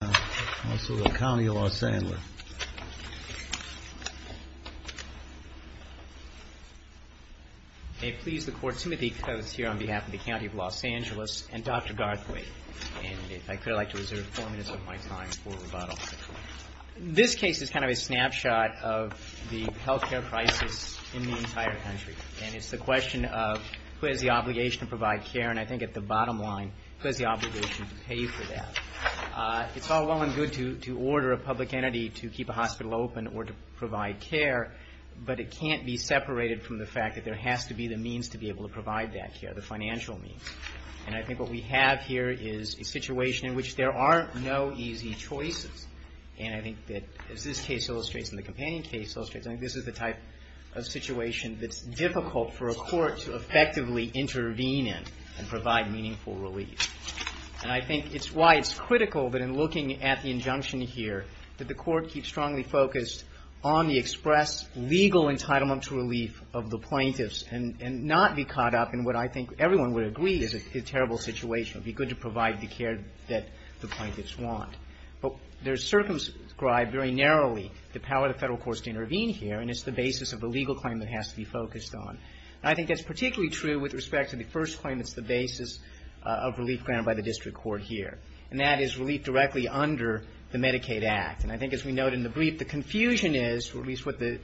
and also the County of Los Angeles May it please the Court, Timothy Coates here on behalf of the County of Los Angeles and Dr. Garthway and if I could I'd like to reserve four minutes of my time for rebuttal. This case is kind of a snapshot of the health care crisis in the entire country and it's the question of who has the obligation to pay for that. It's all well and good to order a public entity to keep a hospital open or to provide care but it can't be separated from the fact that there has to be the means to be able to provide that care, the financial means. And I think what we have here is a situation in which there are no easy choices and I think that as this case illustrates and the companion case illustrates I think this is the type of situation that's difficult for a court to effectively intervene in and provide meaningful relief. And I think it's why it's critical that in looking at the injunction here that the court keeps strongly focused on the express legal entitlement to relief of the plaintiffs and not be caught up in what I think everyone would agree is a terrible situation. It would be good to provide the care that the plaintiffs want. But there's circumscribed very narrowly the power of the federal courts to intervene here and it's the basis of the legal claim that I think that's particularly true with respect to the first claim that's the basis of relief granted by the district court here. And that is relief directly under the Medicaid Act. And I think as we note in the brief the confusion is or at least what the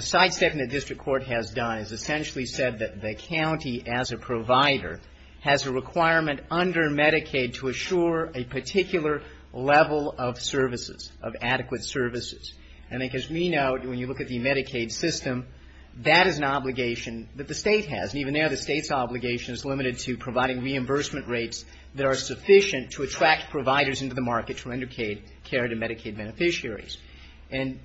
sidestep in the district court has done is essentially said that the county as a provider has a requirement under Medicaid to assure a particular level of services, of adequate services. And I think as we note when you look at the Medicaid system, that is an obligation that the state has. And even there the state's obligation is limited to providing reimbursement rates that are sufficient to attract providers into the market for Medicaid care to Medicaid beneficiaries. And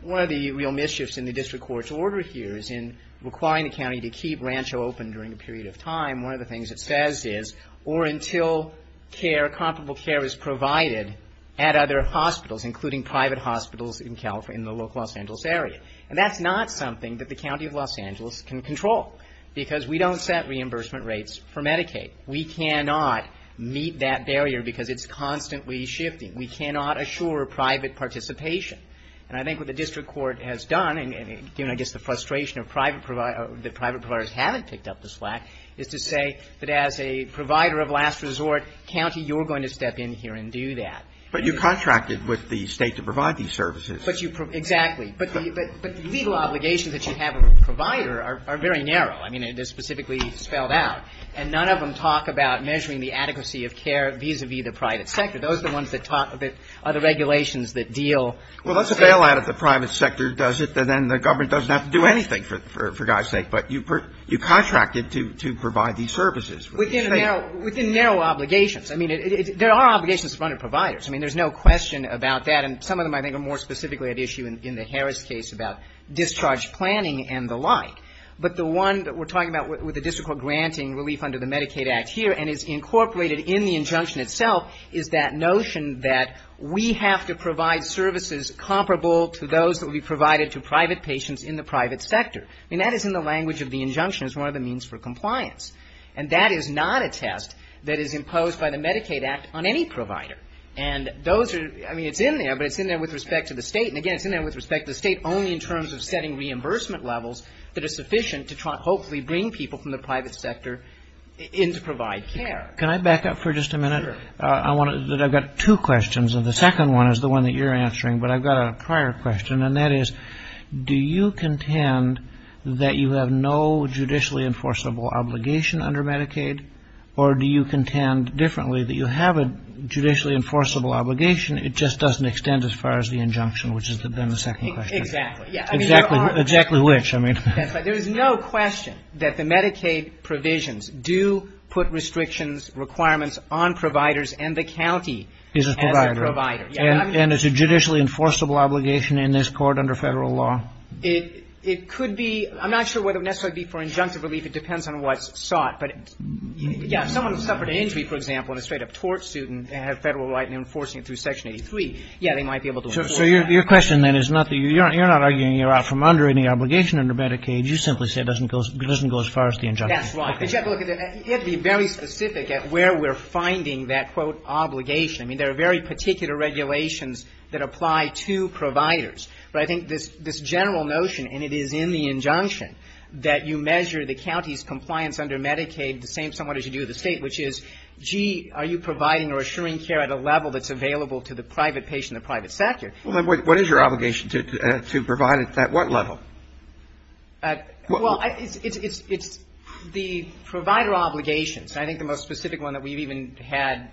one of the real mischiefs in the district court's order here is in requiring the county to keep Rancho open during a period of time. One of the things it says is or until care, comparable care is provided at other hospitals, including private hospitals in California, in the local Los Angeles area. And that's not something that the county of Los Angeles can control because we don't set reimbursement rates for Medicaid. We cannot meet that barrier because it's constantly shifting. We cannot assure private participation. And I think what the district court has done, and given I guess the frustration of private providers, that private providers haven't picked up the slack, is to say that as a provider of last resort county you're going to step in here and do that. But you contracted with the state to provide these services. But you – exactly. But the legal obligations that you have as a provider are very narrow. I mean, they're specifically spelled out. And none of them talk about measuring the adequacy of care vis-à-vis the private sector. Those are the ones that talk about the regulations that deal with the state. Well, that's a bailout if the private sector does it, then the government doesn't have to do anything, for God's sake. But you contracted to provide these services. Within narrow obligations. I mean, there are obligations in front of providers. I mean, there's no question about that. And some of them I think are more specifically at issue in the Harris case about discharge planning and the like. But the one that we're talking about with the district court granting relief under the Medicaid Act here and is incorporated in the injunction itself is that notion that we have to provide services comparable to those that will be provided to private patients in the private sector. I mean, that is in the language of the injunction. It's one of the means for compliance. And that is not a test that is imposed by the Medicaid Act on any provider. And those are, I mean, it's in there, but it's in there with respect to the state. And again, it's in there with respect to the state only in terms of setting reimbursement levels that are sufficient to hopefully bring people from the private sector in to provide care. Can I back up for just a minute? Sure. I want to, I've got two questions. And the second one is the one that you're answering. But I've got a prior question. And that is, do you contend that you have no judicially enforceable obligation under Medicaid? Or do you contend differently that you have a judicially enforceable obligation? It just doesn't extend as far as the injunction, which is then the second question. Exactly. Yeah. Exactly. Exactly which, I mean. But there is no question that the Medicaid provisions do put restrictions, requirements on providers and the county as a provider. And it's a judicially enforceable obligation in this court under federal law? It could be. I'm not sure whether it would necessarily be for injunctive relief. It depends on what's sought. But, yeah, if someone suffered an injury, for example, in a straight-up tort suit and had a federal right in enforcing it through Section 83, yeah, they might be able to enforce that. So your question, then, is not that you're not arguing you're out from under any obligation under Medicaid. You simply say it doesn't go as far as the injunction. That's right. But you have to look at it. You have to be very specific at where we're finding that, quote, obligation. I mean, there are very particular regulations that apply to providers. But I think this general notion, and it is in the injunction, that you measure the county's compliance under Medicaid the same somewhat as you do the state, which is, gee, are you providing or assuring care at a level that's available to the private patient, the private sector? Well, then, what is your obligation to provide at what level? Well, it's the provider obligations. I think the most specific one that we've even had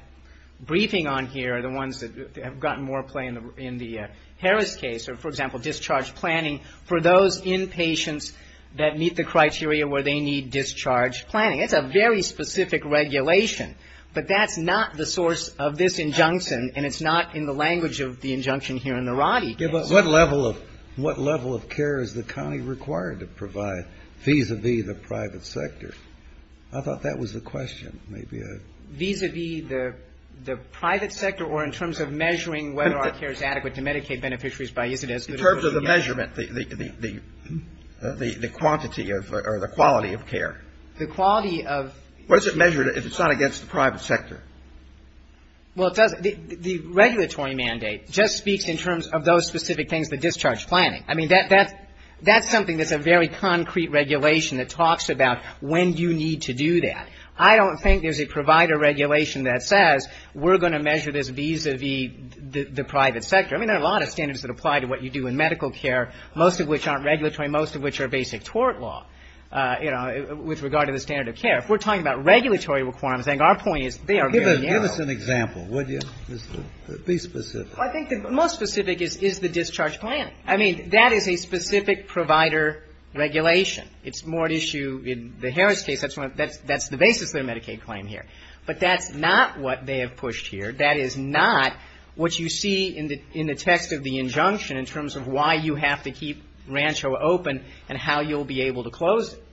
briefing on here, the ones that have gotten more play in the Harris case, or, for example, discharge planning, for those inpatients that meet the criteria where they need discharge planning. It's a very specific regulation. But that's not the source of this injunction, and it's not in the language of the injunction here in the Roddy case. Yeah, but what level of care is the county required to provide vis-a-vis the private sector? I thought that was the question. Maybe I've got it. Vis-a-vis the private sector, or in terms of measuring whether our care is adequate to Medicaid beneficiaries by, is it as good as we get? In terms of the measurement, the quantity of, or the quality of care. The quality of. What is it measured if it's not against the private sector? Well, it does. The regulatory mandate just speaks in terms of those specific things, the discharge planning. I mean, that's something that's a very concrete regulation that talks about when you need to do that. I don't think there's a provider regulation that says we're going to measure this vis-a-vis the private sector. I mean, there are a lot of standards that apply to what you do in medical care, most of which aren't regulatory, most of which are basic tort law, you know, with regard to the standard of care. If we're talking about regulatory requirements, I think our point is they are very narrow. Give us an example, would you? Be specific. I think the most specific is the discharge plan. I mean, that is a specific provider regulation. It's more at issue in the Harris case. That's the basis of their Medicaid claim here. But that's not what they have pushed here. That is not what you see in the text of the injunction in terms of why you have to keep Rancho open and how you'll be able to close it.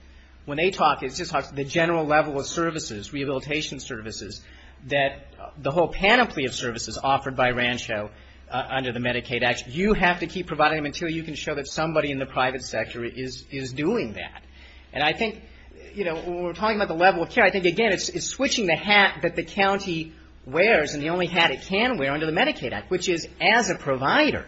When they talk, it just talks to the general level of services, rehabilitation services, that the whole panoply of services offered by Rancho under the Medicaid Act, you have to keep providing them until you can show that somebody in the private sector is doing that. And I think, you know, when we're talking about the level of care, I think, again, it's switching the hat that the county wears and the only hat it can wear under the Medicaid Act, which is as a provider,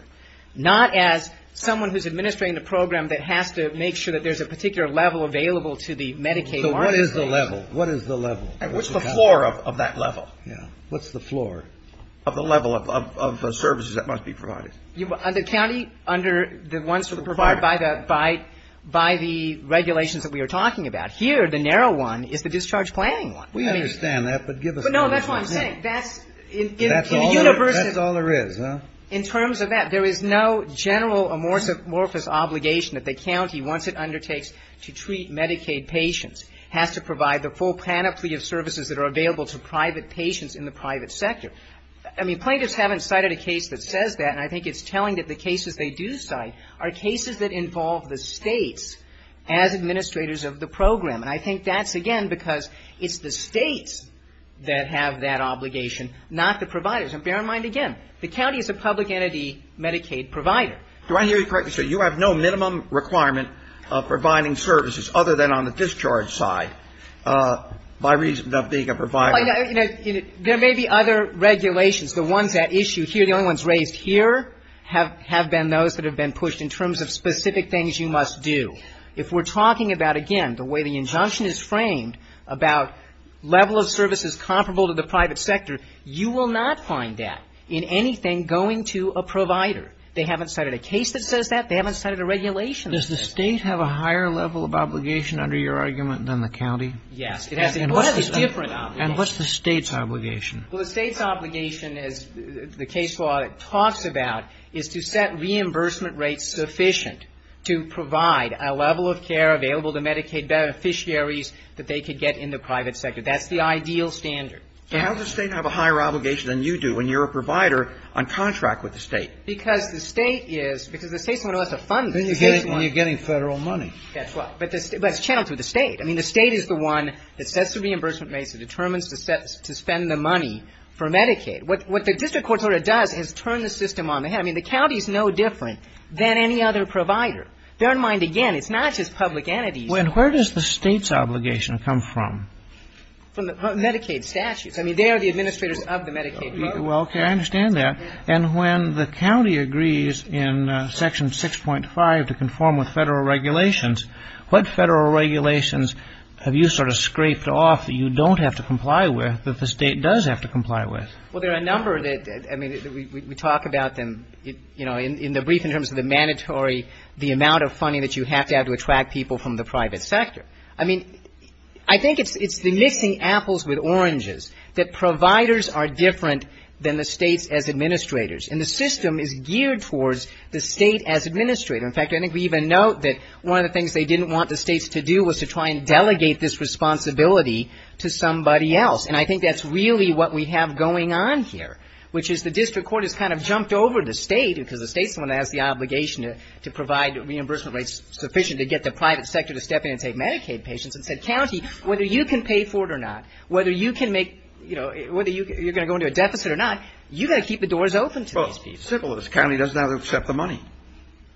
not as someone who's administrating the program that has to make sure that there's a particular level available to the Medicaid market. So what is the level? What is the level? What's the floor of that level? What's the floor of the level of services that must be provided? Under county, under the ones that are required by the regulations that we are talking about. Here, the narrow one is the discharge planning one. We understand that, but give us a little more detail. No, that's what I'm saying. That's in the universal That's all there is, huh? In terms of that, there is no general amorphous obligation that the county, once it undertakes to treat Medicaid patients, has to provide the full panoply of services that are available to private patients in the private sector. I mean, plaintiffs haven't cited a case that I think it's telling that the cases they do cite are cases that involve the states as administrators of the program. And I think that's, again, because it's the states that have that obligation, not the providers. And bear in mind, again, the county is a public entity Medicaid provider. Do I hear you correctly, sir? You have no minimum requirement of providing services other than on the discharge side by reason of being a provider? Well, you know, there may be other regulations. The ones at issue here, the only ones raised here, have been those that have been pushed in terms of specific things you must do. If we're talking about, again, the way the injunction is framed about level of services comparable to the private sector, you will not find that in anything going to a provider. They haven't cited a case that says that. They haven't cited a regulation that says that. Does the State have a higher level of obligation under your argument than the county? Yes, it has. And what's the State's obligation? Well, the State's obligation, as the case law talks about, is to set reimbursement rates sufficient to provide a level of care available to Medicaid beneficiaries that they could get in the private sector. That's the ideal standard. But how does the State have a higher obligation than you do when you're a provider on contract with the State? Because the State is, because the State's the one who has to fund the State's money. Then you're getting Federal money. That's right. But it's channeled through the State. I mean, the State is the one that sets the reimbursement rates. It determines to set, to spend the money for Medicaid. What, what the district court order does is turn the system on the head. I mean, the county's no different than any other provider. Bear in mind, again, it's not just public entities. When, where does the State's obligation come from? From the Medicaid statutes. I mean, they are the administrators of the Medicaid. Well, okay, I understand that. And when the county agrees in Section 6.5 to conform with Well, there are a number that, I mean, we talk about them, you know, in the brief in terms of the mandatory, the amount of funding that you have to have to attract people from the private sector. I mean, I think it's the mixing apples with oranges, that providers are different than the States as administrators. And the system is geared towards the State as administrator. In fact, I think we even note that one of the things they didn't want the States to do was to try and delegate this responsibility to somebody else. And I think that's really what we have going on here, which is the district court has kind of jumped over the State, because the State's the one that has the obligation to provide reimbursement rates sufficient to get the private sector to step in and take Medicaid patients, and said, county, whether you can pay for it or not, whether you can make, you know, whether you're going to go into a deficit or not, you've got to keep the doors open to these people. Well, simple, this county doesn't have to accept the money.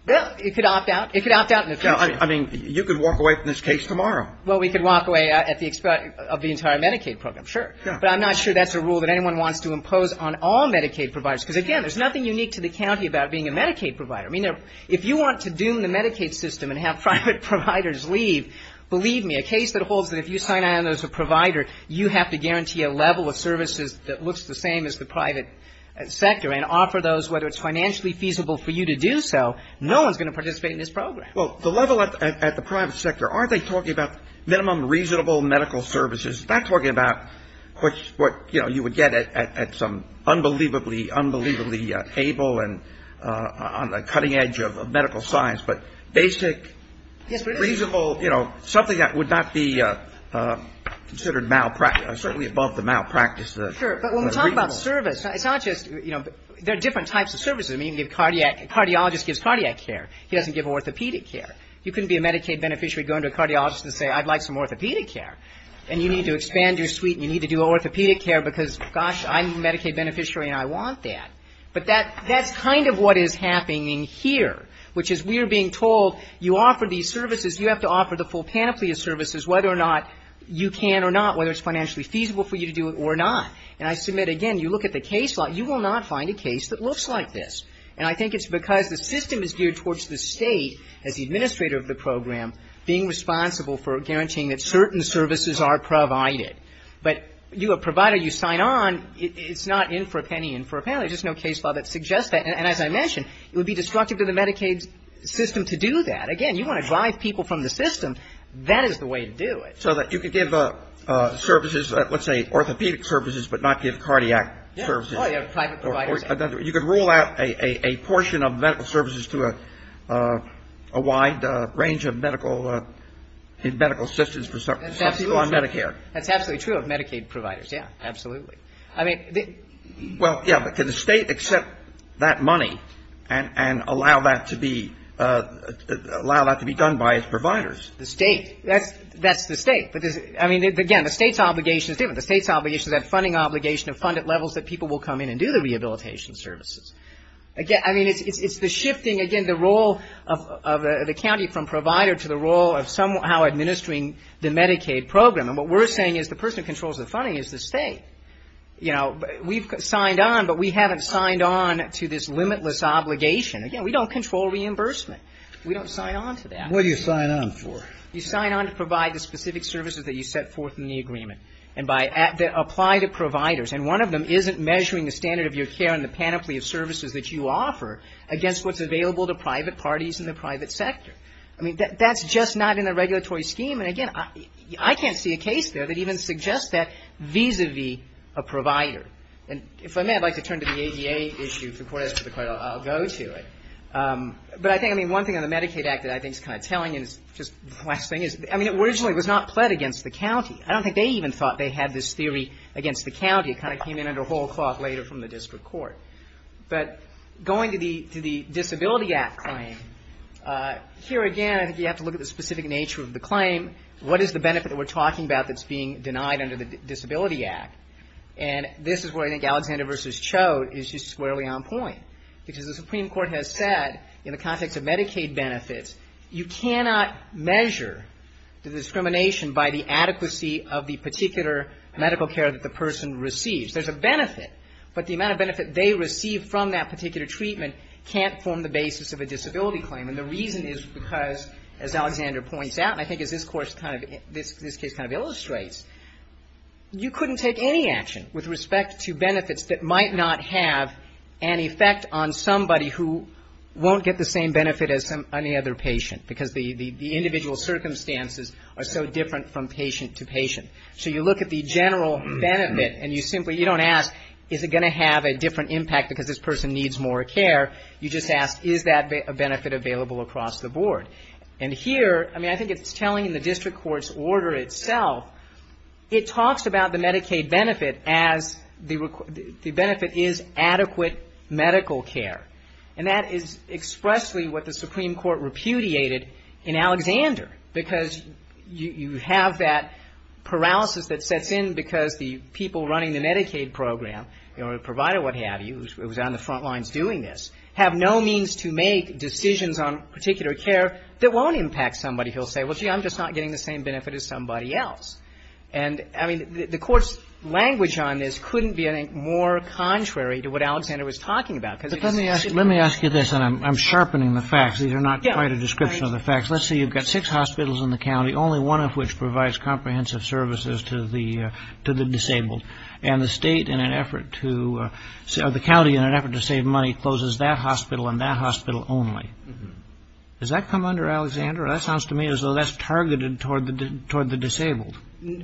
Well, it could opt out. It could opt out in the future. I mean, you could walk away from this case tomorrow. Well, we could walk away at the expense of the entire Medicaid program, sure. But I'm not sure that's a rule that anyone wants to impose on all Medicaid providers. Because, again, there's nothing unique to the county about being a Medicaid provider. I mean, if you want to doom the Medicaid system and have private providers leave, believe me, a case that holds that if you sign on as a provider, you have to guarantee a level of services that looks the same as the private sector, and offer those, whether it's financially feasible for you to do so, no one's going to participate in this program. Well, the level at the private sector, aren't they talking about minimum reasonable medical services? Not talking about what, you know, you would get at some unbelievably, unbelievably able and on the cutting edge of medical science, but basic, reasonable, you know, something that would not be considered malpractice, certainly above the malpractice, the reasonable. Sure. But when we talk about service, it's not just, you know, there are different types of services. A cardiologist gives cardiac care. He doesn't give orthopedic care. You couldn't be a Medicaid beneficiary going to a cardiologist and say, I'd like some orthopedic care. And you need to expand your suite and you need to do orthopedic care because, gosh, I'm a Medicaid beneficiary and I want that. But that's kind of what is happening here, which is we are being told you offer these services, you have to offer the full panoply of services, whether or not you can or not, whether it's financially feasible for you to do it or not. And I submit, again, you look at the case law, you will not find a case that looks like this. And I think it's because the system is geared towards the State as the administrator of the program being responsible for guaranteeing that certain services are provided. But you are a provider, you sign on, it's not in for a penny, in for a pound. There's just no case law that suggests that. And as I mentioned, it would be destructive to the Medicaid system to do that. Again, you want to drive people from the system, that is the way to do it. So that you could give services, let's say orthopedic services, but not give cardiac services. Oh, yeah, private providers. You could rule out a portion of medical services to a wide range of medical assistance for some people on Medicare. That's absolutely true of Medicaid providers, yeah, absolutely. I mean, the Well, yeah, but can the State accept that money and allow that to be done by its providers? The State. That's the State. But, I mean, again, the State's obligation is different. The State's obligation is that funding obligation to fund at levels that people will come in and do the rehabilitation services. Again, I mean, it's the shifting, again, the role of the county from provider to the role of somehow administering the Medicaid program. And what we're saying is the person who controls the funding is the State. You know, we've signed on, but we haven't signed on to this limitless obligation. Again, we don't control reimbursement. We don't sign on to that. What do you sign on for? You sign on to provide the specific services that you set forth in the agreement and that apply to providers. And one of them isn't measuring the standard of your care and the panoply of services that you offer against what's available to private parties in the private sector. I mean, that's just not in the regulatory scheme. And, again, I can't see a case there that even suggests that vis-a-vis a provider. And if I may, I'd like to turn to the ADA issue before I ask for the credit. I'll go to it. But I think, I mean, one thing on the Medicaid Act that I think is kind of telling you is just the last thing is, I mean, it originally was not pled against the county. I don't think they even thought they had this theory against the county. It kind of came in under whole cloth later from the district court. But going to the Disability Act claim, here again, I think you have to look at the specific nature of the claim. What is the benefit that we're talking about that's being denied under the Disability Act? And this is where I think Alexander versus said, in the context of Medicaid benefits, you cannot measure the discrimination by the adequacy of the particular medical care that the person receives. There's a benefit, but the amount of benefit they receive from that particular treatment can't form the basis of a disability claim. And the reason is because, as Alexander points out, and I think as this case kind of illustrates, you couldn't take any action with respect to benefits that might not have an effect on somebody who won't get the same benefit as any other patient because the individual circumstances are so different from patient to patient. So you look at the general benefit and you simply, you don't ask, is it going to have a different impact because this person needs more care? You just ask, is that a benefit available across the board? And here, I mean, I think it's telling the district court's order itself, it talks about the Medicaid benefit as the benefit is adequate medical care. And that is expressly what the Supreme Court repudiated in Alexander because you have that paralysis that sets in because the people running the Medicaid program, you know, a provider, what have you, who's on the front lines doing this, have no means to make decisions on particular care that won't impact somebody who'll say, well, gee, I'm just not getting the same benefit as somebody else. And, I mean, the court's language on this couldn't be, I think, more contrary to what Alexander was talking about. But let me ask you this, and I'm sharpening the facts. These are not quite a description of the facts. Let's say you've got six hospitals in the county, only one of which provides comprehensive services to the disabled. And the state in an effort to, or the county in an effort to save money closes that hospital and that hospital only. Does that come under Alexander? That sounds to me as though that's targeted toward the disabled.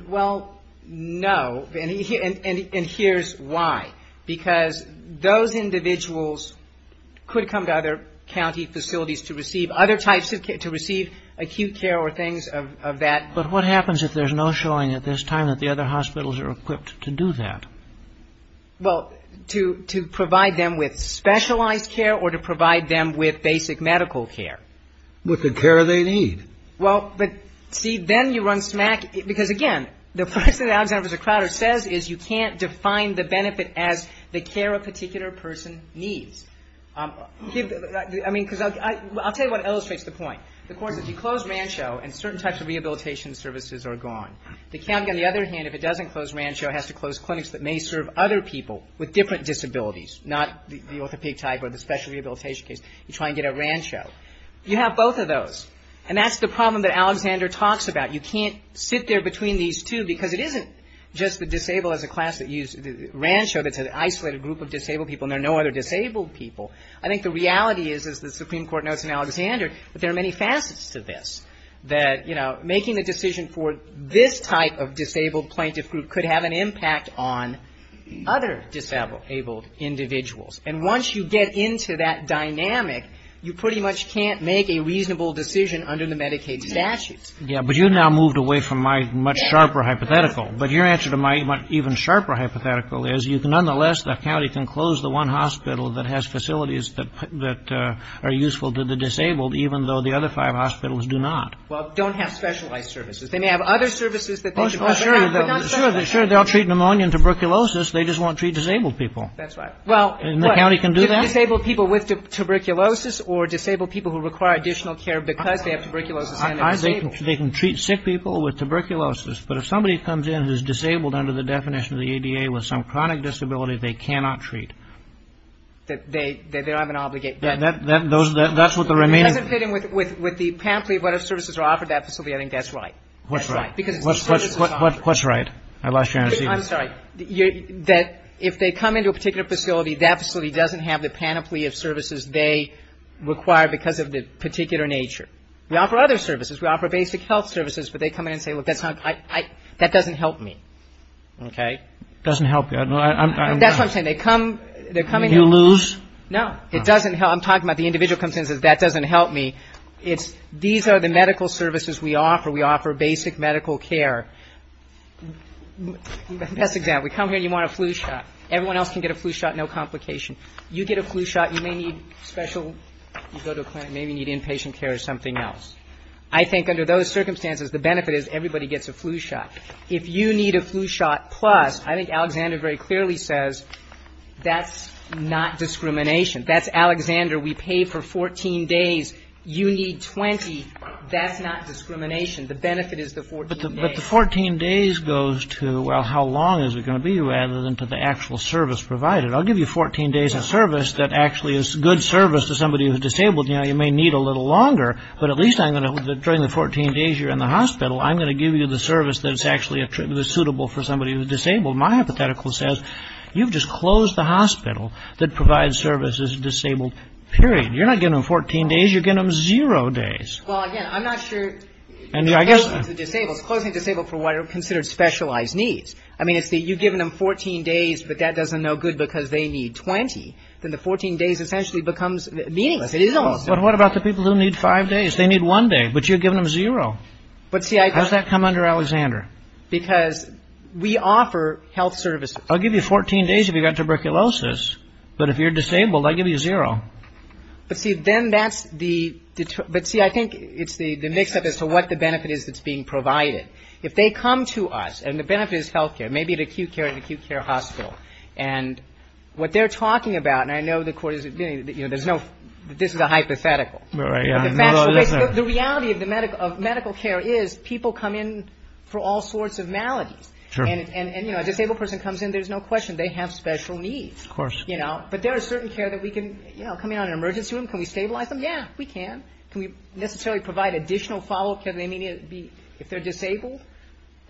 Well, no. And here's why. Because those individuals could come to other county facilities to receive other types of care, to receive acute care or things of that. But what happens if there's no showing at this time that the other hospitals are equipped to do that? Well, to provide them with specialized care or to provide them with basic medical care. With the care they need. Well, but see, then you run smack. Because, again, the first thing that Alexander says is you can't define the benefit as the care a particular person needs. I mean, because I'll tell you what illustrates the point. The court says you close Rancho and certain types of rehabilitation services are gone. The county, on the other hand, if it doesn't close Rancho, has to close clinics that may serve other people with different disabilities, not the orthopedic type or the special rehabilitation case. You try and get at Rancho. You have both of And that's the problem that Alexander talks about. You can't sit there between these two because it isn't just the disabled as a class that use Rancho that's an isolated group of disabled people and there are no other disabled people. I think the reality is, as the Supreme Court notes in Alexander, that there are many facets to this. That, you know, making a decision for this type of disabled plaintiff group could have an impact on other disabled individuals. And once you get into that dynamic, you pretty much can't make a reasonable decision under the Medicaid statutes. Yeah, but you've now moved away from my much sharper hypothetical. But your answer to my even sharper hypothetical is you can nonetheless, the county can close the one hospital that has facilities that are useful to the disabled, even though the other five hospitals do not. Well, don't have specialized services. They may have other services that they should have, but not specialized. Sure, they'll treat pneumonia and tuberculosis. They just won't treat disabled people. That's right. And the county can do that? Well, disabled people with tuberculosis or disabled people who require additional care because they have tuberculosis and they're disabled. I think they can treat sick people with tuberculosis. But if somebody comes in who's disabled under the definition of the ADA with some chronic disability, they cannot treat. They're not going to obligate. That's what the remaining. It doesn't fit in with the panoply of what services are offered at that facility. I think that's right. What's right? Because it's the services that are offered. What's right? I lost you on a seat. I'm sorry. That if they come into a particular facility, that facility doesn't have the panoply of services they require because of the particular nature. We offer other services. We offer basic health services, but they come in and say, look, that's not, that doesn't help me. Okay. Doesn't help you. That's what I'm saying. They come, they're coming in. You lose? No. It doesn't help. I'm talking about the individual comes in and says, that doesn't help me. It's, these are the medical services we offer. We offer basic medical care. Best example, we come here and you want a flu shot. Everyone else can get a flu shot. You get a flu shot, you may need special, you go to a clinic, maybe need inpatient care or something else. I think under those circumstances, the benefit is everybody gets a flu shot. If you need a flu shot plus, I think Alexander very clearly says, that's not discrimination. That's Alexander, we pay for 14 days. You need 20. That's not discrimination. The benefit is the 14 days. But the 14 days goes to, well, how long is it going to be rather than to the actual service provided? I'll give you 14 days of service that actually is good service to somebody who's disabled. You know, you may need a little longer, but at least I'm going to, during the 14 days you're in the hospital, I'm going to give you the service that's actually suitable for somebody who's disabled. My hypothetical says, you've just closed the hospital that provides services to disabled, period. You're not giving them 14 days, you're giving them zero days. Well, again, I'm not sure, closing to disabled, closing to disabled for what are considered specialized needs. I mean, it's that you've given them 14 days, but that doesn't know good because they need 20, then the 14 days essentially becomes meaningless. But what about the people who need five days? They need one day, but you're giving them zero. How does that come under Alexander? Because we offer health services. I'll give you 14 days if you've got tuberculosis, but if you're disabled, I give you zero. But see, then that's the, but see, I think it's the mix up as to what the benefit is that's being provided. If they come to us and the benefit is health care, maybe it's acute care at an acute care hospital. And what they're talking about, and I know the court is admitting that, you know, there's no, this is a hypothetical. The reality of the medical, of medical care is people come in for all sorts of maladies. And, and, and, you know, a disabled person comes in, there's no question they have special needs, you know, but there are certain care that we can, you know, come in on an emergency room. Can we stabilize them? Yeah, we can. Can we necessarily provide additional follow-up care that they may need to be, if they're disabled?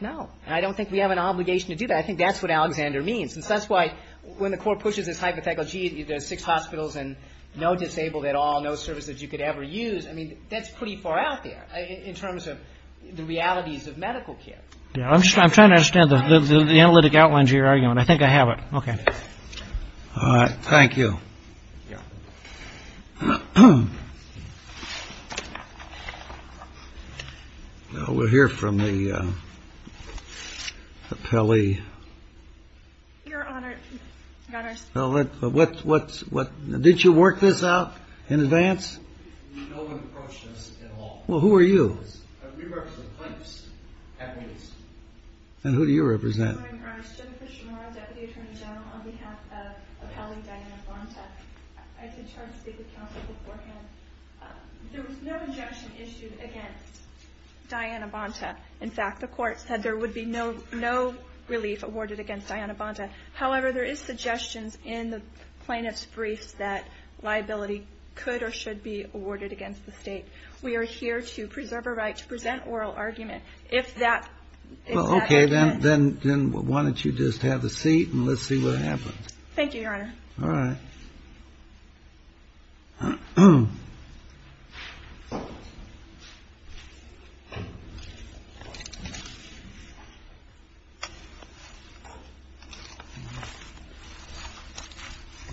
No. And I don't think we have an obligation to do that. I think that's what Alexander means. And that's why, when the court pushes this hypothetical, gee, there's six hospitals and no disabled at all, no services you could ever use. I mean, that's pretty far out there in terms of the realities of medical care. Yeah. I'm just, I'm trying to understand the, the, the analytic outlines of your argument. I think I have it. Okay. All right. Thank you. Yeah. We'll hear from the Apelli. Your Honor. Well, what, what, what, what, did you work this out in advance? Well, who are you? And who do you represent? I did try to speak with counsel beforehand. There was no injunction issued against Diana Bonta. In fact, the court said there would be no, no relief awarded against Diana Bonta. However, there is suggestions in the plaintiff's briefs that liability could or should be awarded against the state. We are here to preserve a right to present oral argument. If that, if that. Okay. Then, then, then why don't you just have a seat and let's see what happens. Thank you, Your Honor. All right. Good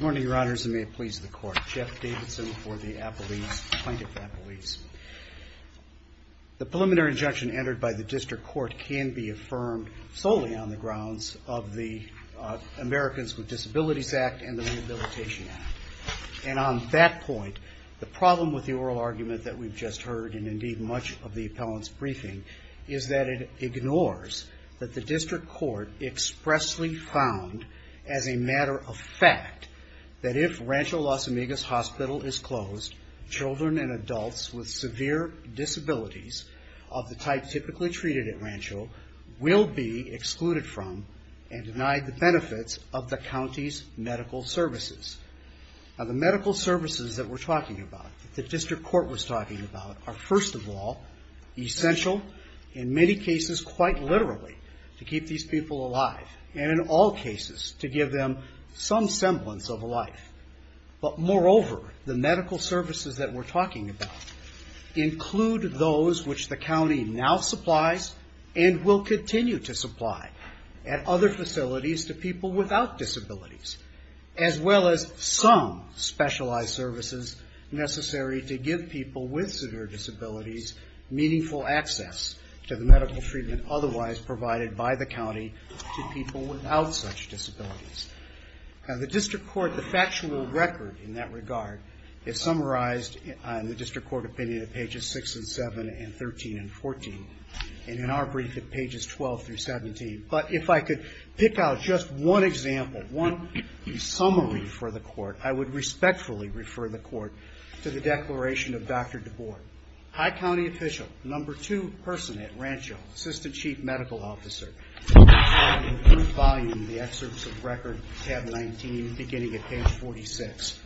morning, Your Honors, and may it please the court. Jeff Davidson for the Apelli's, plaintiff Apelli's. The preliminary injunction entered by the district court can be affirmed solely on the grounds of the Americans with Disabilities Act. And on that point, the problem with the oral argument that we've just heard, and indeed much of the appellant's briefing, is that it ignores that the district court expressly found as a matter of fact that if Rancho Las Amigas Hospital is closed, children and adults with severe disabilities of the type typically treated at Rancho will be excluded from and denied the medical services that we're talking about, that the district court was talking about, are first of all, essential, in many cases quite literally, to keep these people alive. And in all cases, to give them some semblance of a life. But moreover, the medical services that we're talking about include those which the county now supplies and will continue to supply at other facilities to people without disabilities, as well as some specialized services necessary to give people with severe disabilities meaningful access to the medical treatment otherwise provided by the county to people without such disabilities. Now the district court, the factual record in that regard, is summarized in the district court opinion at pages 6 and 7 and 13 and 14, and in our brief at pages 12 through 17. But if I could pick out just one example, one summary for the court, I would respectfully refer the court to the declaration of Dr. DeBoard, high county official, number two person at Rancho, assistant chief medical officer, in volume, the excerpts of record tab 19 beginning at page 46.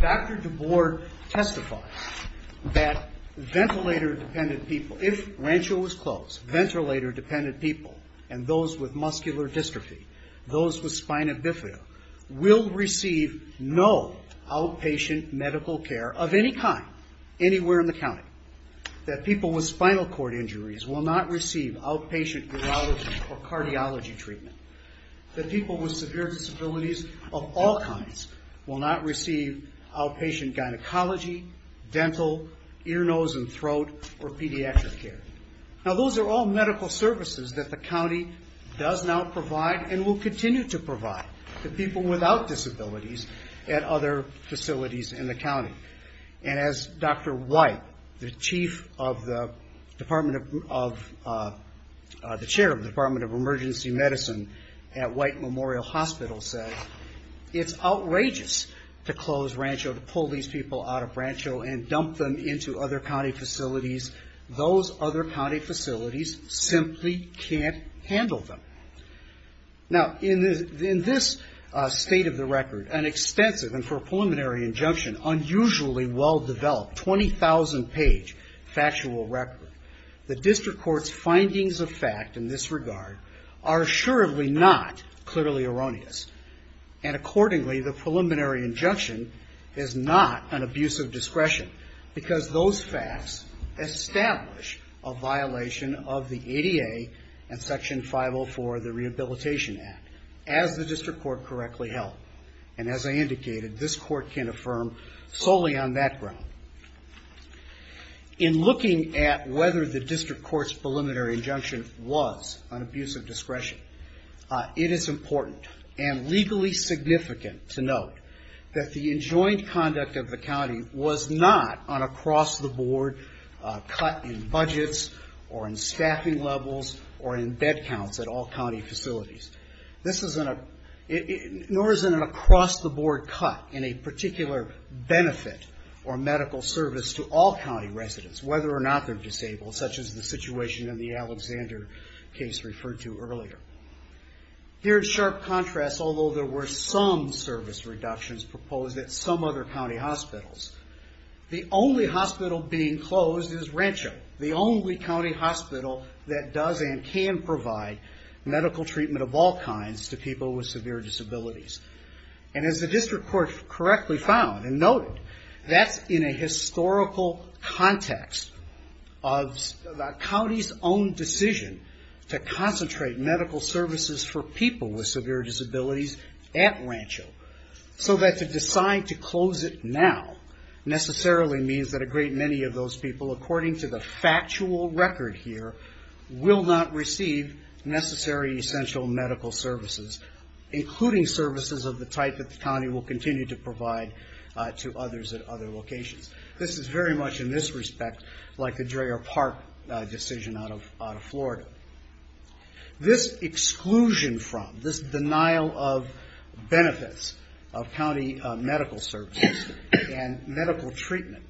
Dr. DeBoard testifies that ventilator dependent people, if Rancho was closed, ventilator dependent people, and those with muscular dystrophy, those with spina bifida, will receive no outpatient medical care of any kind, anywhere in the county. That people with spinal cord injuries will not receive outpatient urology or cardiology treatment. That people with severe disabilities of all kinds will not receive outpatient gynecology, dental, ear, nose, and throat, or pediatric care. Now those are all medical services that the county does now provide and will continue to provide to people without disabilities at other facilities in the county. And as Dr. White, the chair of the Department of Emergency Medicine at White Memorial Hospital said, it's outrageous to close Rancho, to pull these people out of Rancho and dump them into other county facilities. Those other county facilities simply can't handle them. Now in this state of the record, an extensive, and for a preliminary injunction, unusually well-developed, 20,000 page factual record, the district court's findings of fact in this regard are assuredly not clearly erroneous. And accordingly, the preliminary injunction is not an abuse of discretion, because those facts establish a violation of the ADA and Section 504 of the Rehabilitation Act, as the district court correctly held. And as I indicated, this court can affirm solely on that ground. In looking at whether the district court's preliminary injunction was an abuse of discretion, it is important and legally significant to note that the enjoined conduct of the injunction is not an across-the-board cut in budgets, or in staffing levels, or in bed counts at all county facilities. Nor is it an across-the-board cut in a particular benefit or medical service to all county residents, whether or not they're disabled, such as the situation in the Alexander case referred to earlier. Here in sharp contrast, although there were some service reductions proposed at some other county hospitals, the only hospital being closed is Rancho, the only county hospital that does and can provide medical treatment of all kinds to people with severe disabilities. And as the district court correctly found and noted, that's in a historical context of the county's own decision to concentrate medical services for people with severe disabilities, so that to decide to close it now necessarily means that a great many of those people, according to the factual record here, will not receive necessary essential medical services, including services of the type that the county will continue to provide to others at other locations. This is very much, in this respect, like the Dreher Park decision out of Florida. This exclusion from, this denial of benefits of county medical services and medical treatment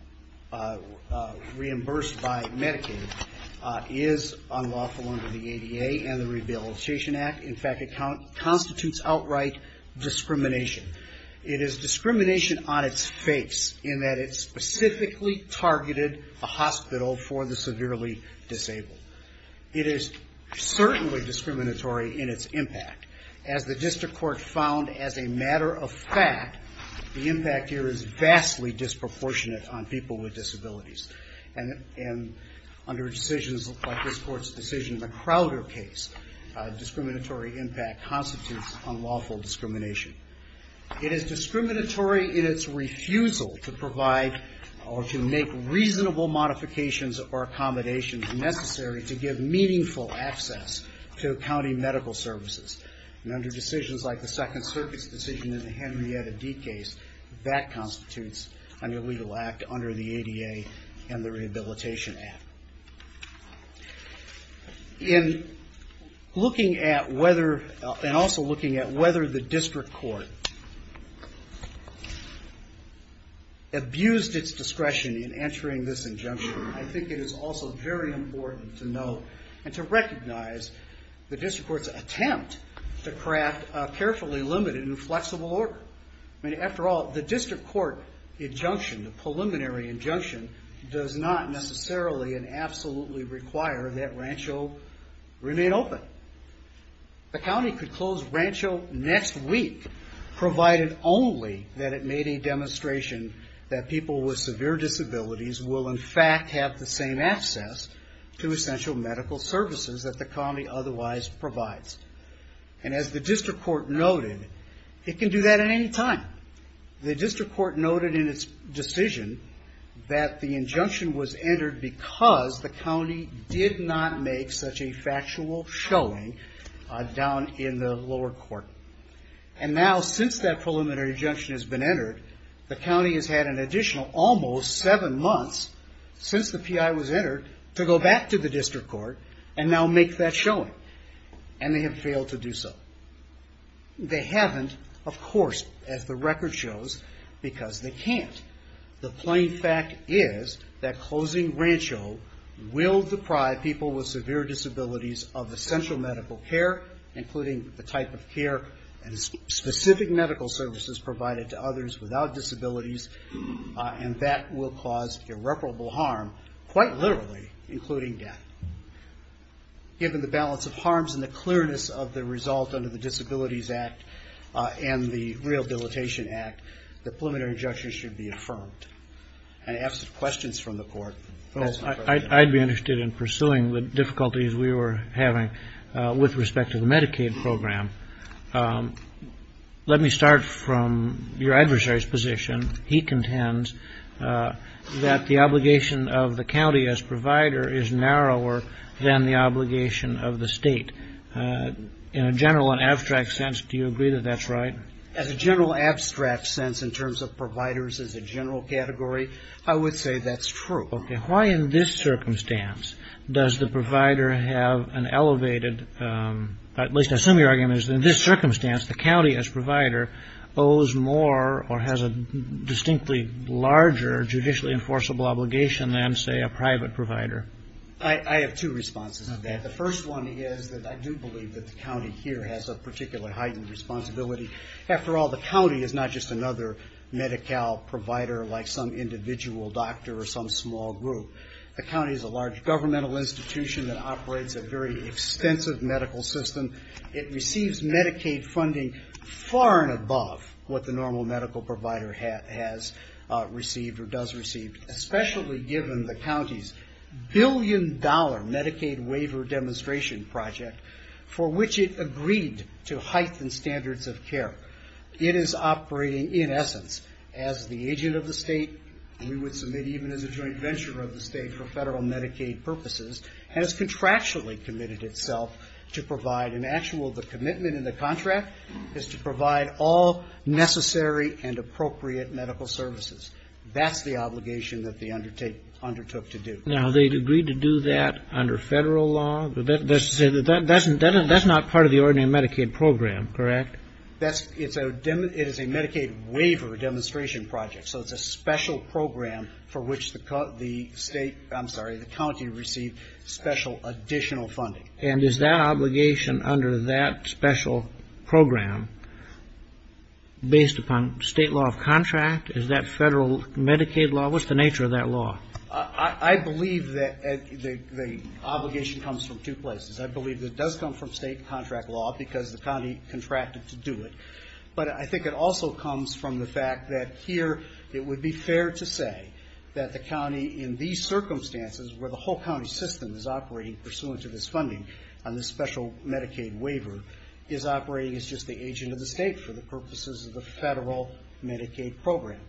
reimbursed by Medicaid is unlawful under the ADA and the Rehabilitation Act. In fact, it constitutes outright discrimination. It is discrimination on its face, in that it specifically targeted a hospital for the severely disabled. It is certainly discriminatory in its impact. As the district court found as a matter of fact, the impact here is vastly disproportionate on people with disabilities. And under decisions like this court's decision, the Crowder case, discriminatory impact constitutes unlawful discrimination. It is discriminatory in its refusal to provide or to make reasonable modifications or accommodations necessary to give meaningful access to county medical services. And under decisions like the Second Circuit's decision in the Henrietta D case, that constitutes an illegal act under the ADA and the Rehabilitation Act. In looking at whether, and also looking at whether the district court abused its discretion in entering this injunction, I think it is also very important to note and to recognize the district court's attempt to craft a carefully limited and flexible order. After all, the district court injunction, the preliminary injunction, does not necessarily and absolutely require that Rancho remain open. The county could close Rancho next week, provided only that it made a demonstration that people with severe disabilities had the same access to essential medical services that the county otherwise provides. And as the district court noted, it can do that at any time. The district court noted in its decision that the injunction was entered because the county did not make such a factual showing down in the lower court. And now, since that preliminary injunction has been entered, the county has had an additional almost seven months, since the PI was entered, to go back to the district court and now make that showing. And they have failed to do so. They haven't, of course, as the record shows, because they can't. The plain fact is that closing Rancho will deprive people with severe disabilities of essential medical care, including the without disabilities, and that will cause irreparable harm, quite literally, including death. Given the balance of harms and the clearness of the result under the Disabilities Act and the Rehabilitation Act, the preliminary injunction should be affirmed. And I have some questions from the court. That's my question. I'd be interested in pursuing the difficulties we were having with respect to the Medicaid program. Let me start from your adversary's position. He contends that the obligation of the county as provider is narrower than the obligation of the state. In a general and abstract sense, do you agree that that's right? As a general abstract sense, in terms of providers as a general category, I would say that's true. Why in this circumstance does the provider have an elevated, at least I assume your argument is in this circumstance, the county as provider owes more or has a distinctly larger judicially enforceable obligation than, say, a private provider? I have two responses to that. The first one is that I do believe that the county here has a particularly heightened responsibility. After all, the county is not just another Medi-Cal provider like some individual doctor or some small group. The county is a large governmental institution that operates a very extensive medical system. It receives Medicaid funding far and above what the normal medical provider has received or does receive, especially given the county's billion-dollar Medicaid waiver demonstration project for which it agreed to heighten standards of care. It is operating, in essence, as the agent of the state, we would submit even as a joint venture of the state for federal Medicaid purposes, has contractually committed itself to provide an actual, the commitment in the contract is to provide all necessary and appropriate medical services. That's the obligation that they undertook to do. Now, they agreed to do that under federal law? That's to say that that's not part of the ordinary Medicaid program, correct? It is a Medicaid waiver demonstration project, so it's a special program for which the state, I'm sorry, the county received special additional funding. And is that obligation under that special program based upon state law of contract? Is that federal Medicaid law? What's the nature of that law? I believe that the obligation comes from two places. I believe that it does come from state contract law because the county contracted to do it, but I think it also comes from the fact that here it would be fair to say that the county in these circumstances where the whole county system is operating pursuant to this funding on this special Medicaid waiver is operating as just the agent of the state for the purposes of the federal Medicaid program.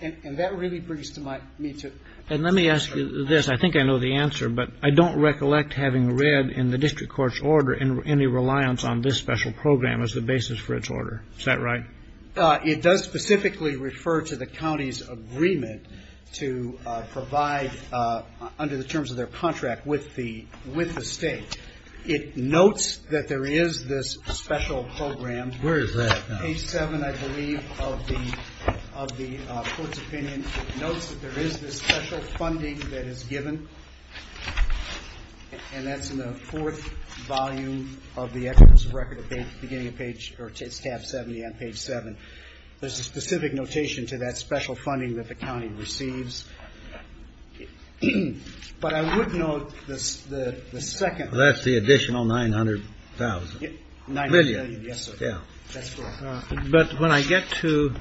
And that really brings to my, me to. And let me ask you this. I think I know the answer, but I don't recollect having read in the district court's order any reliance on this special program as the basis for its order. Is that right? It does specifically refer to the county's agreement to provide under the terms of their contract with the state. It notes that there is this special program. Where is that now? Page seven, I believe, of the court's opinion. It notes that there is this special funding that is given. And that's in the fourth volume of the records of record at the beginning of page or tab 70 on page seven. There's a specific notation to that special funding that the county receives. But I would note this, the second. Well, that's the additional 900,000. Yeah, 900,000, yes, sir. Yeah. That's correct. But when I get to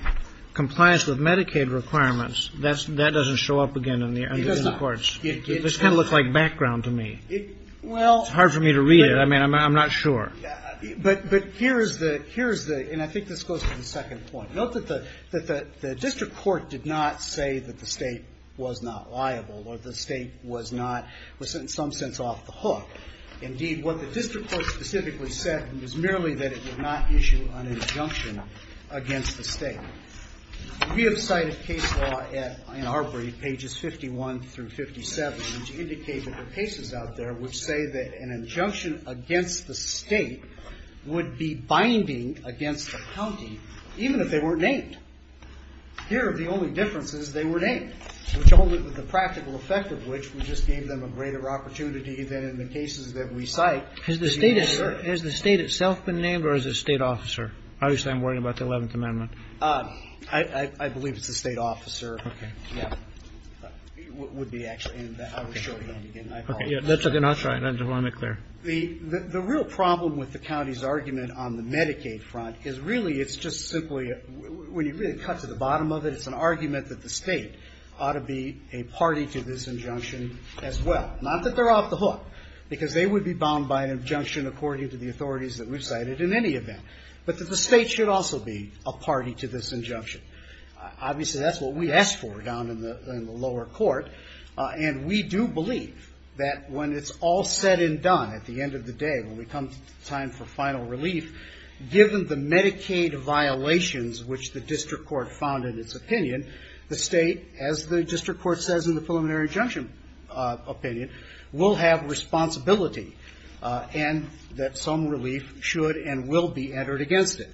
compliance with Medicaid requirements, that's, that doesn't show up again in the court's. This kind of looks like background to me. It's hard for me to read it. I mean, I'm not sure. But here's the, and I think this goes to the second point. Note that the district court did not say that the state was not liable or the state was not, was in some sense off the hook. Indeed, what the district court specifically said was merely that it would not issue an injunction against the state. We have cited case law at, in our brief, pages 51 through 57, which indicate that there are cases out there which say that an injunction against the state would be binding against the county, even if they weren't named. Here, the only difference is they were named, which only with the practical effect of which we just gave them a greater opportunity than in the cases that we cite. Has the state, has the state itself been named or is it a state officer? Obviously, I'm worried about the 11th Amendment. I believe it's a state officer. Okay. Yeah. Would be actually, and I will show you that again. Okay. Yeah. That's okay. I'll try it. I just want to make it clear. The real problem with the county's argument on the Medicaid front is really it's just simply, when you really cut to the bottom of it, it's an argument that the state ought to be a party to this injunction as well. Not that they're off the hook, because they would be bound by an injunction according to the authorities that we've cited in any event, but that the state should also be a party to this injunction. Obviously, that's what we asked for down in the lower court, and we do believe that when it's all said and done, at the end of the day, when we come to time for final relief, given the Medicaid violations which the district court found in its opinion, the state, as the district court says in the preliminary injunction opinion, will have responsibility and that some relief should and should not be and will be entered against it.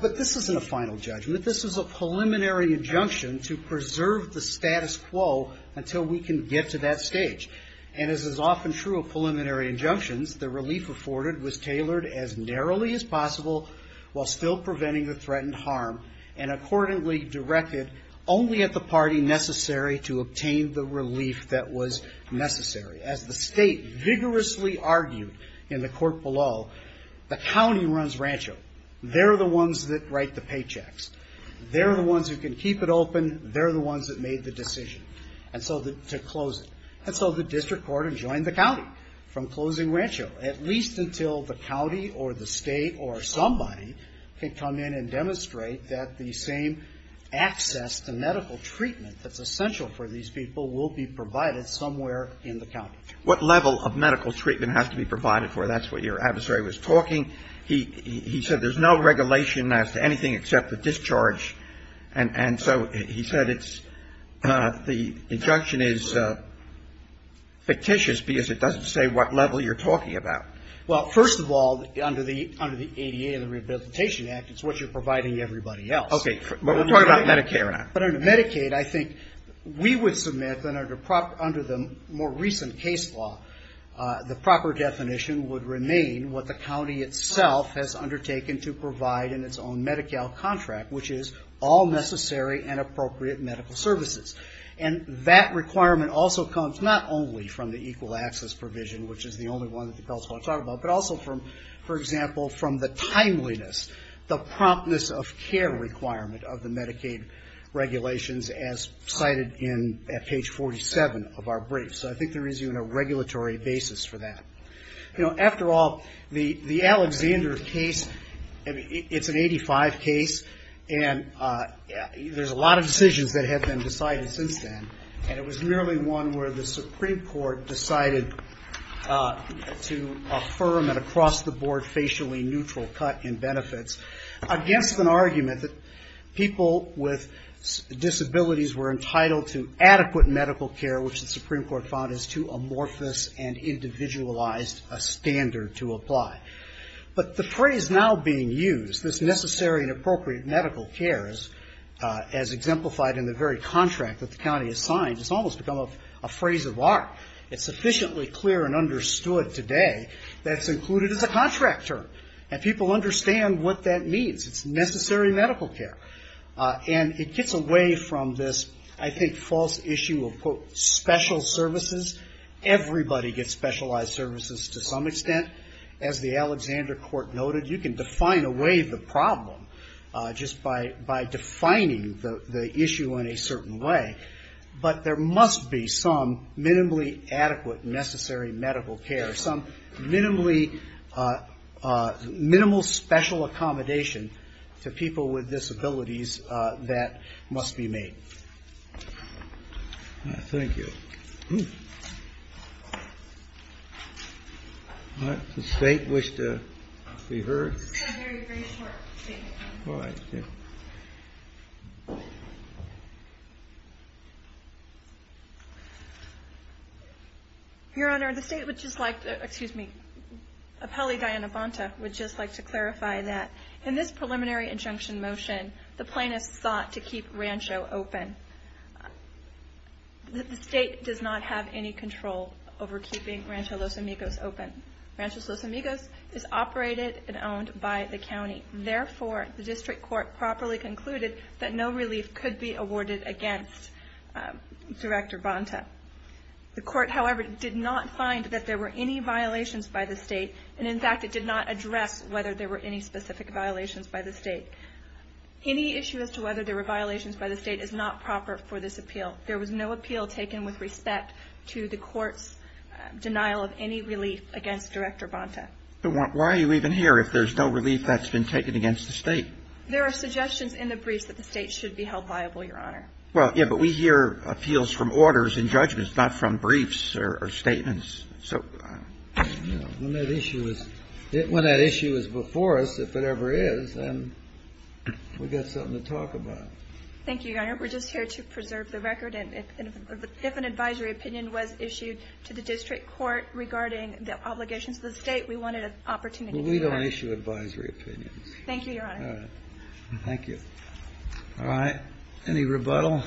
But this isn't a final judgment. This is a preliminary injunction to preserve the status quo until we can get to that stage. And as is often true of preliminary injunctions, the relief afforded was tailored as narrowly as possible while still preventing the threatened harm and accordingly directed only at the party necessary to obtain the relief that was necessary. As the state vigorously argued in the court below, the county runs Rancho. They're the ones that write the paychecks. They're the ones who can keep it open. They're the ones that made the decision to close it. And so the district court enjoined the county from closing Rancho, at least until the county or the state or somebody can come in and demonstrate that the same access to medical treatment that's essential for these people will be provided somewhere in the county. What level of medical treatment has to be provided for? That's what your adversary was talking. He said there's no regulation as to anything except the discharge. And so he said it's the injunction is fictitious because it doesn't say what level you're talking about. Well, first of all, under the ADA and the Rehabilitation Act, it's what you're talking about. But under Medicaid, I think we would submit that under the more recent case law, the proper definition would remain what the county itself has undertaken to provide in its own Medi-Cal contract, which is all necessary and appropriate medical services. And that requirement also comes not only from the equal access provision, which is the only one that the council wants to talk about, but also, for example, from the timeliness, the promptness of care requirement of the Medicaid regulations as cited at page 47 of our brief. So I think there is even a regulatory basis for that. After all, the Alexander case, it's an 85 case, and there's a lot of decisions that have been decided since then, and it was merely one where the Supreme Court decided to affirm an across-the-board, facially neutral cut in benefits against an argument that people with disabilities were entitled to adequate medical care, which the Supreme Court found is too amorphous and individualized a standard to apply. But the phrase now being used, this necessary and appropriate medical care, as exemplified in the very contract that the county has signed, has almost become a sufficiently clear and understood today that's included as a contract term. And people understand what that means. It's necessary medical care. And it gets away from this, I think, false issue of, quote, special services. Everybody gets specialized services to some extent. As the Alexander court noted, you can define away the problem just by defining the issue in a certain way, but there must be some minimally adequate necessary medical care, some minimal special accommodation to people with disabilities that must be made. Thank you. Your Honor, the state would just like to, excuse me, appellee Diana Bonta would just like to clarify that in this preliminary injunction motion, the plaintiff sought to keep Rancho open. The state does not have any control over keeping Rancho Los Amigos open. Rancho Los Amigos is operated and owned by the county. Therefore, the district court properly concluded that no relief could be awarded against Director Bonta. The court, however, did not find that there were any violations by the state. And in fact, it did not address whether there were any specific violations by the state. Any issue as to whether there were violations by the state is not proper for this appeal. There was no appeal taken with respect to the There are suggestions in the briefs that the state should be held liable, Your Honor. Well, yeah, but we hear appeals from orders and judgments, not from briefs or statements. When that issue was before us, if it ever is, then we've got something to talk about. Thank you, Your Honor. We're just here to preserve the record. And if an advisory opinion was issued to the district court regarding the obligations of the state, we wanted an opportunity to do that. All right. Any rebuttal?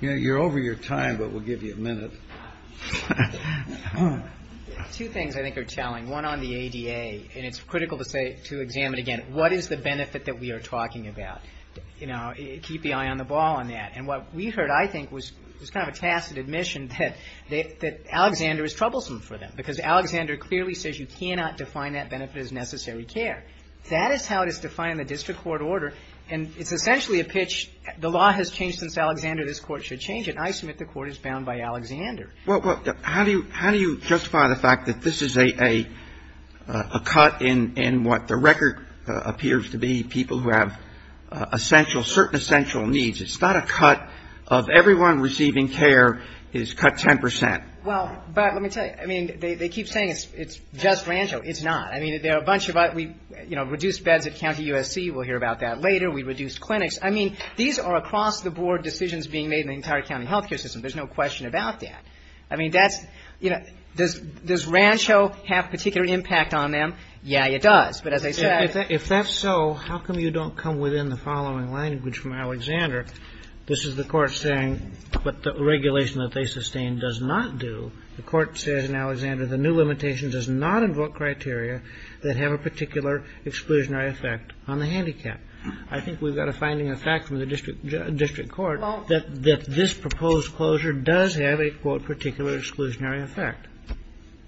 You're over your time, but we'll give you a minute. Two things I think are telling. One on the ADA. And it's critical to say, to examine again, what is the benefit that we are talking about? Keep the eye on the ball on that. And what we heard, I think, was kind of a tacit admission that Alexander is troublesome for them, because Alexander clearly says you cannot define that benefit as necessary care. That is how it is defined in the district court order. And it's essentially a pitch, the law has changed since Alexander, this court should change it. And I submit the court is bound by Alexander. Well, how do you justify the fact that this is a cut in what the record appears to be, people who have essential, certain essential needs? It's not a cut of everyone receiving care is cut 10 percent. Well, but let me tell you, I mean, they keep saying it's just Rancho. It's not. I mean, there are a bunch of us. We, you know, reduced beds at County USC. We'll hear about that later. We reduced clinics. I mean, these are across the board decisions being made in the entire county health care system. There's no question about that. I mean, that's, you know, does Rancho have particular impact on them? Yeah, it does. But as I said If that's so, how come you don't come within the following language from Alexander? This is the court saying, but the regulation that they sustain does not do. The court says in Alexander, the new limitation does not invoke criteria that have a particular exclusionary effect on the handicap. I think we've got a finding, a fact from the district court that this proposed closure does have a quote particular exclusionary effect.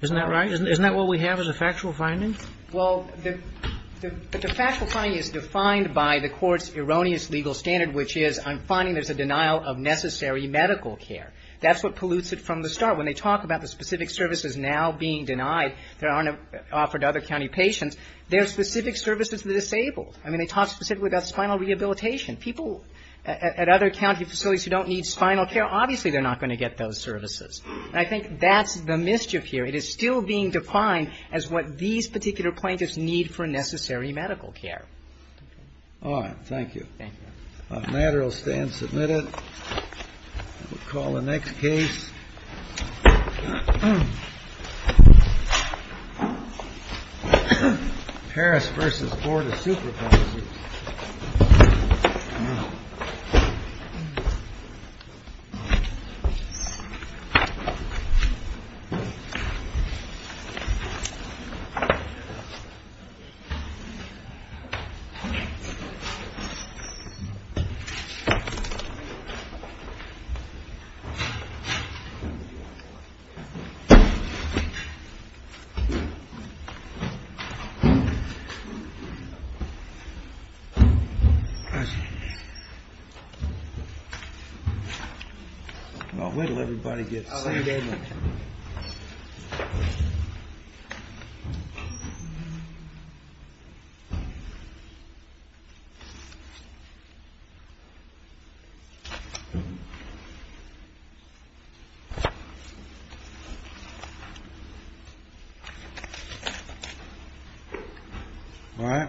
Isn't that right? Isn't that what we have as a factual finding? Well, the factual finding is defined by the court's erroneous legal standard, which is, I'm finding there's a denial of necessary medical care. That's what pollutes it from the start. When they talk about the specific services now being denied that aren't offered to other county patients, they're specific services to the disabled. I mean, they talk specifically about spinal rehabilitation. People at other county facilities who don't need spinal care, obviously they're not going to get those services. And I think that's the mischief here. It is still being defined as what these particular plaintiffs need for necessary medical care. All right. Thank you. Thank you, Your Honor. We'll call the next case. Mm hmm. Well, when will everybody get seated? All right.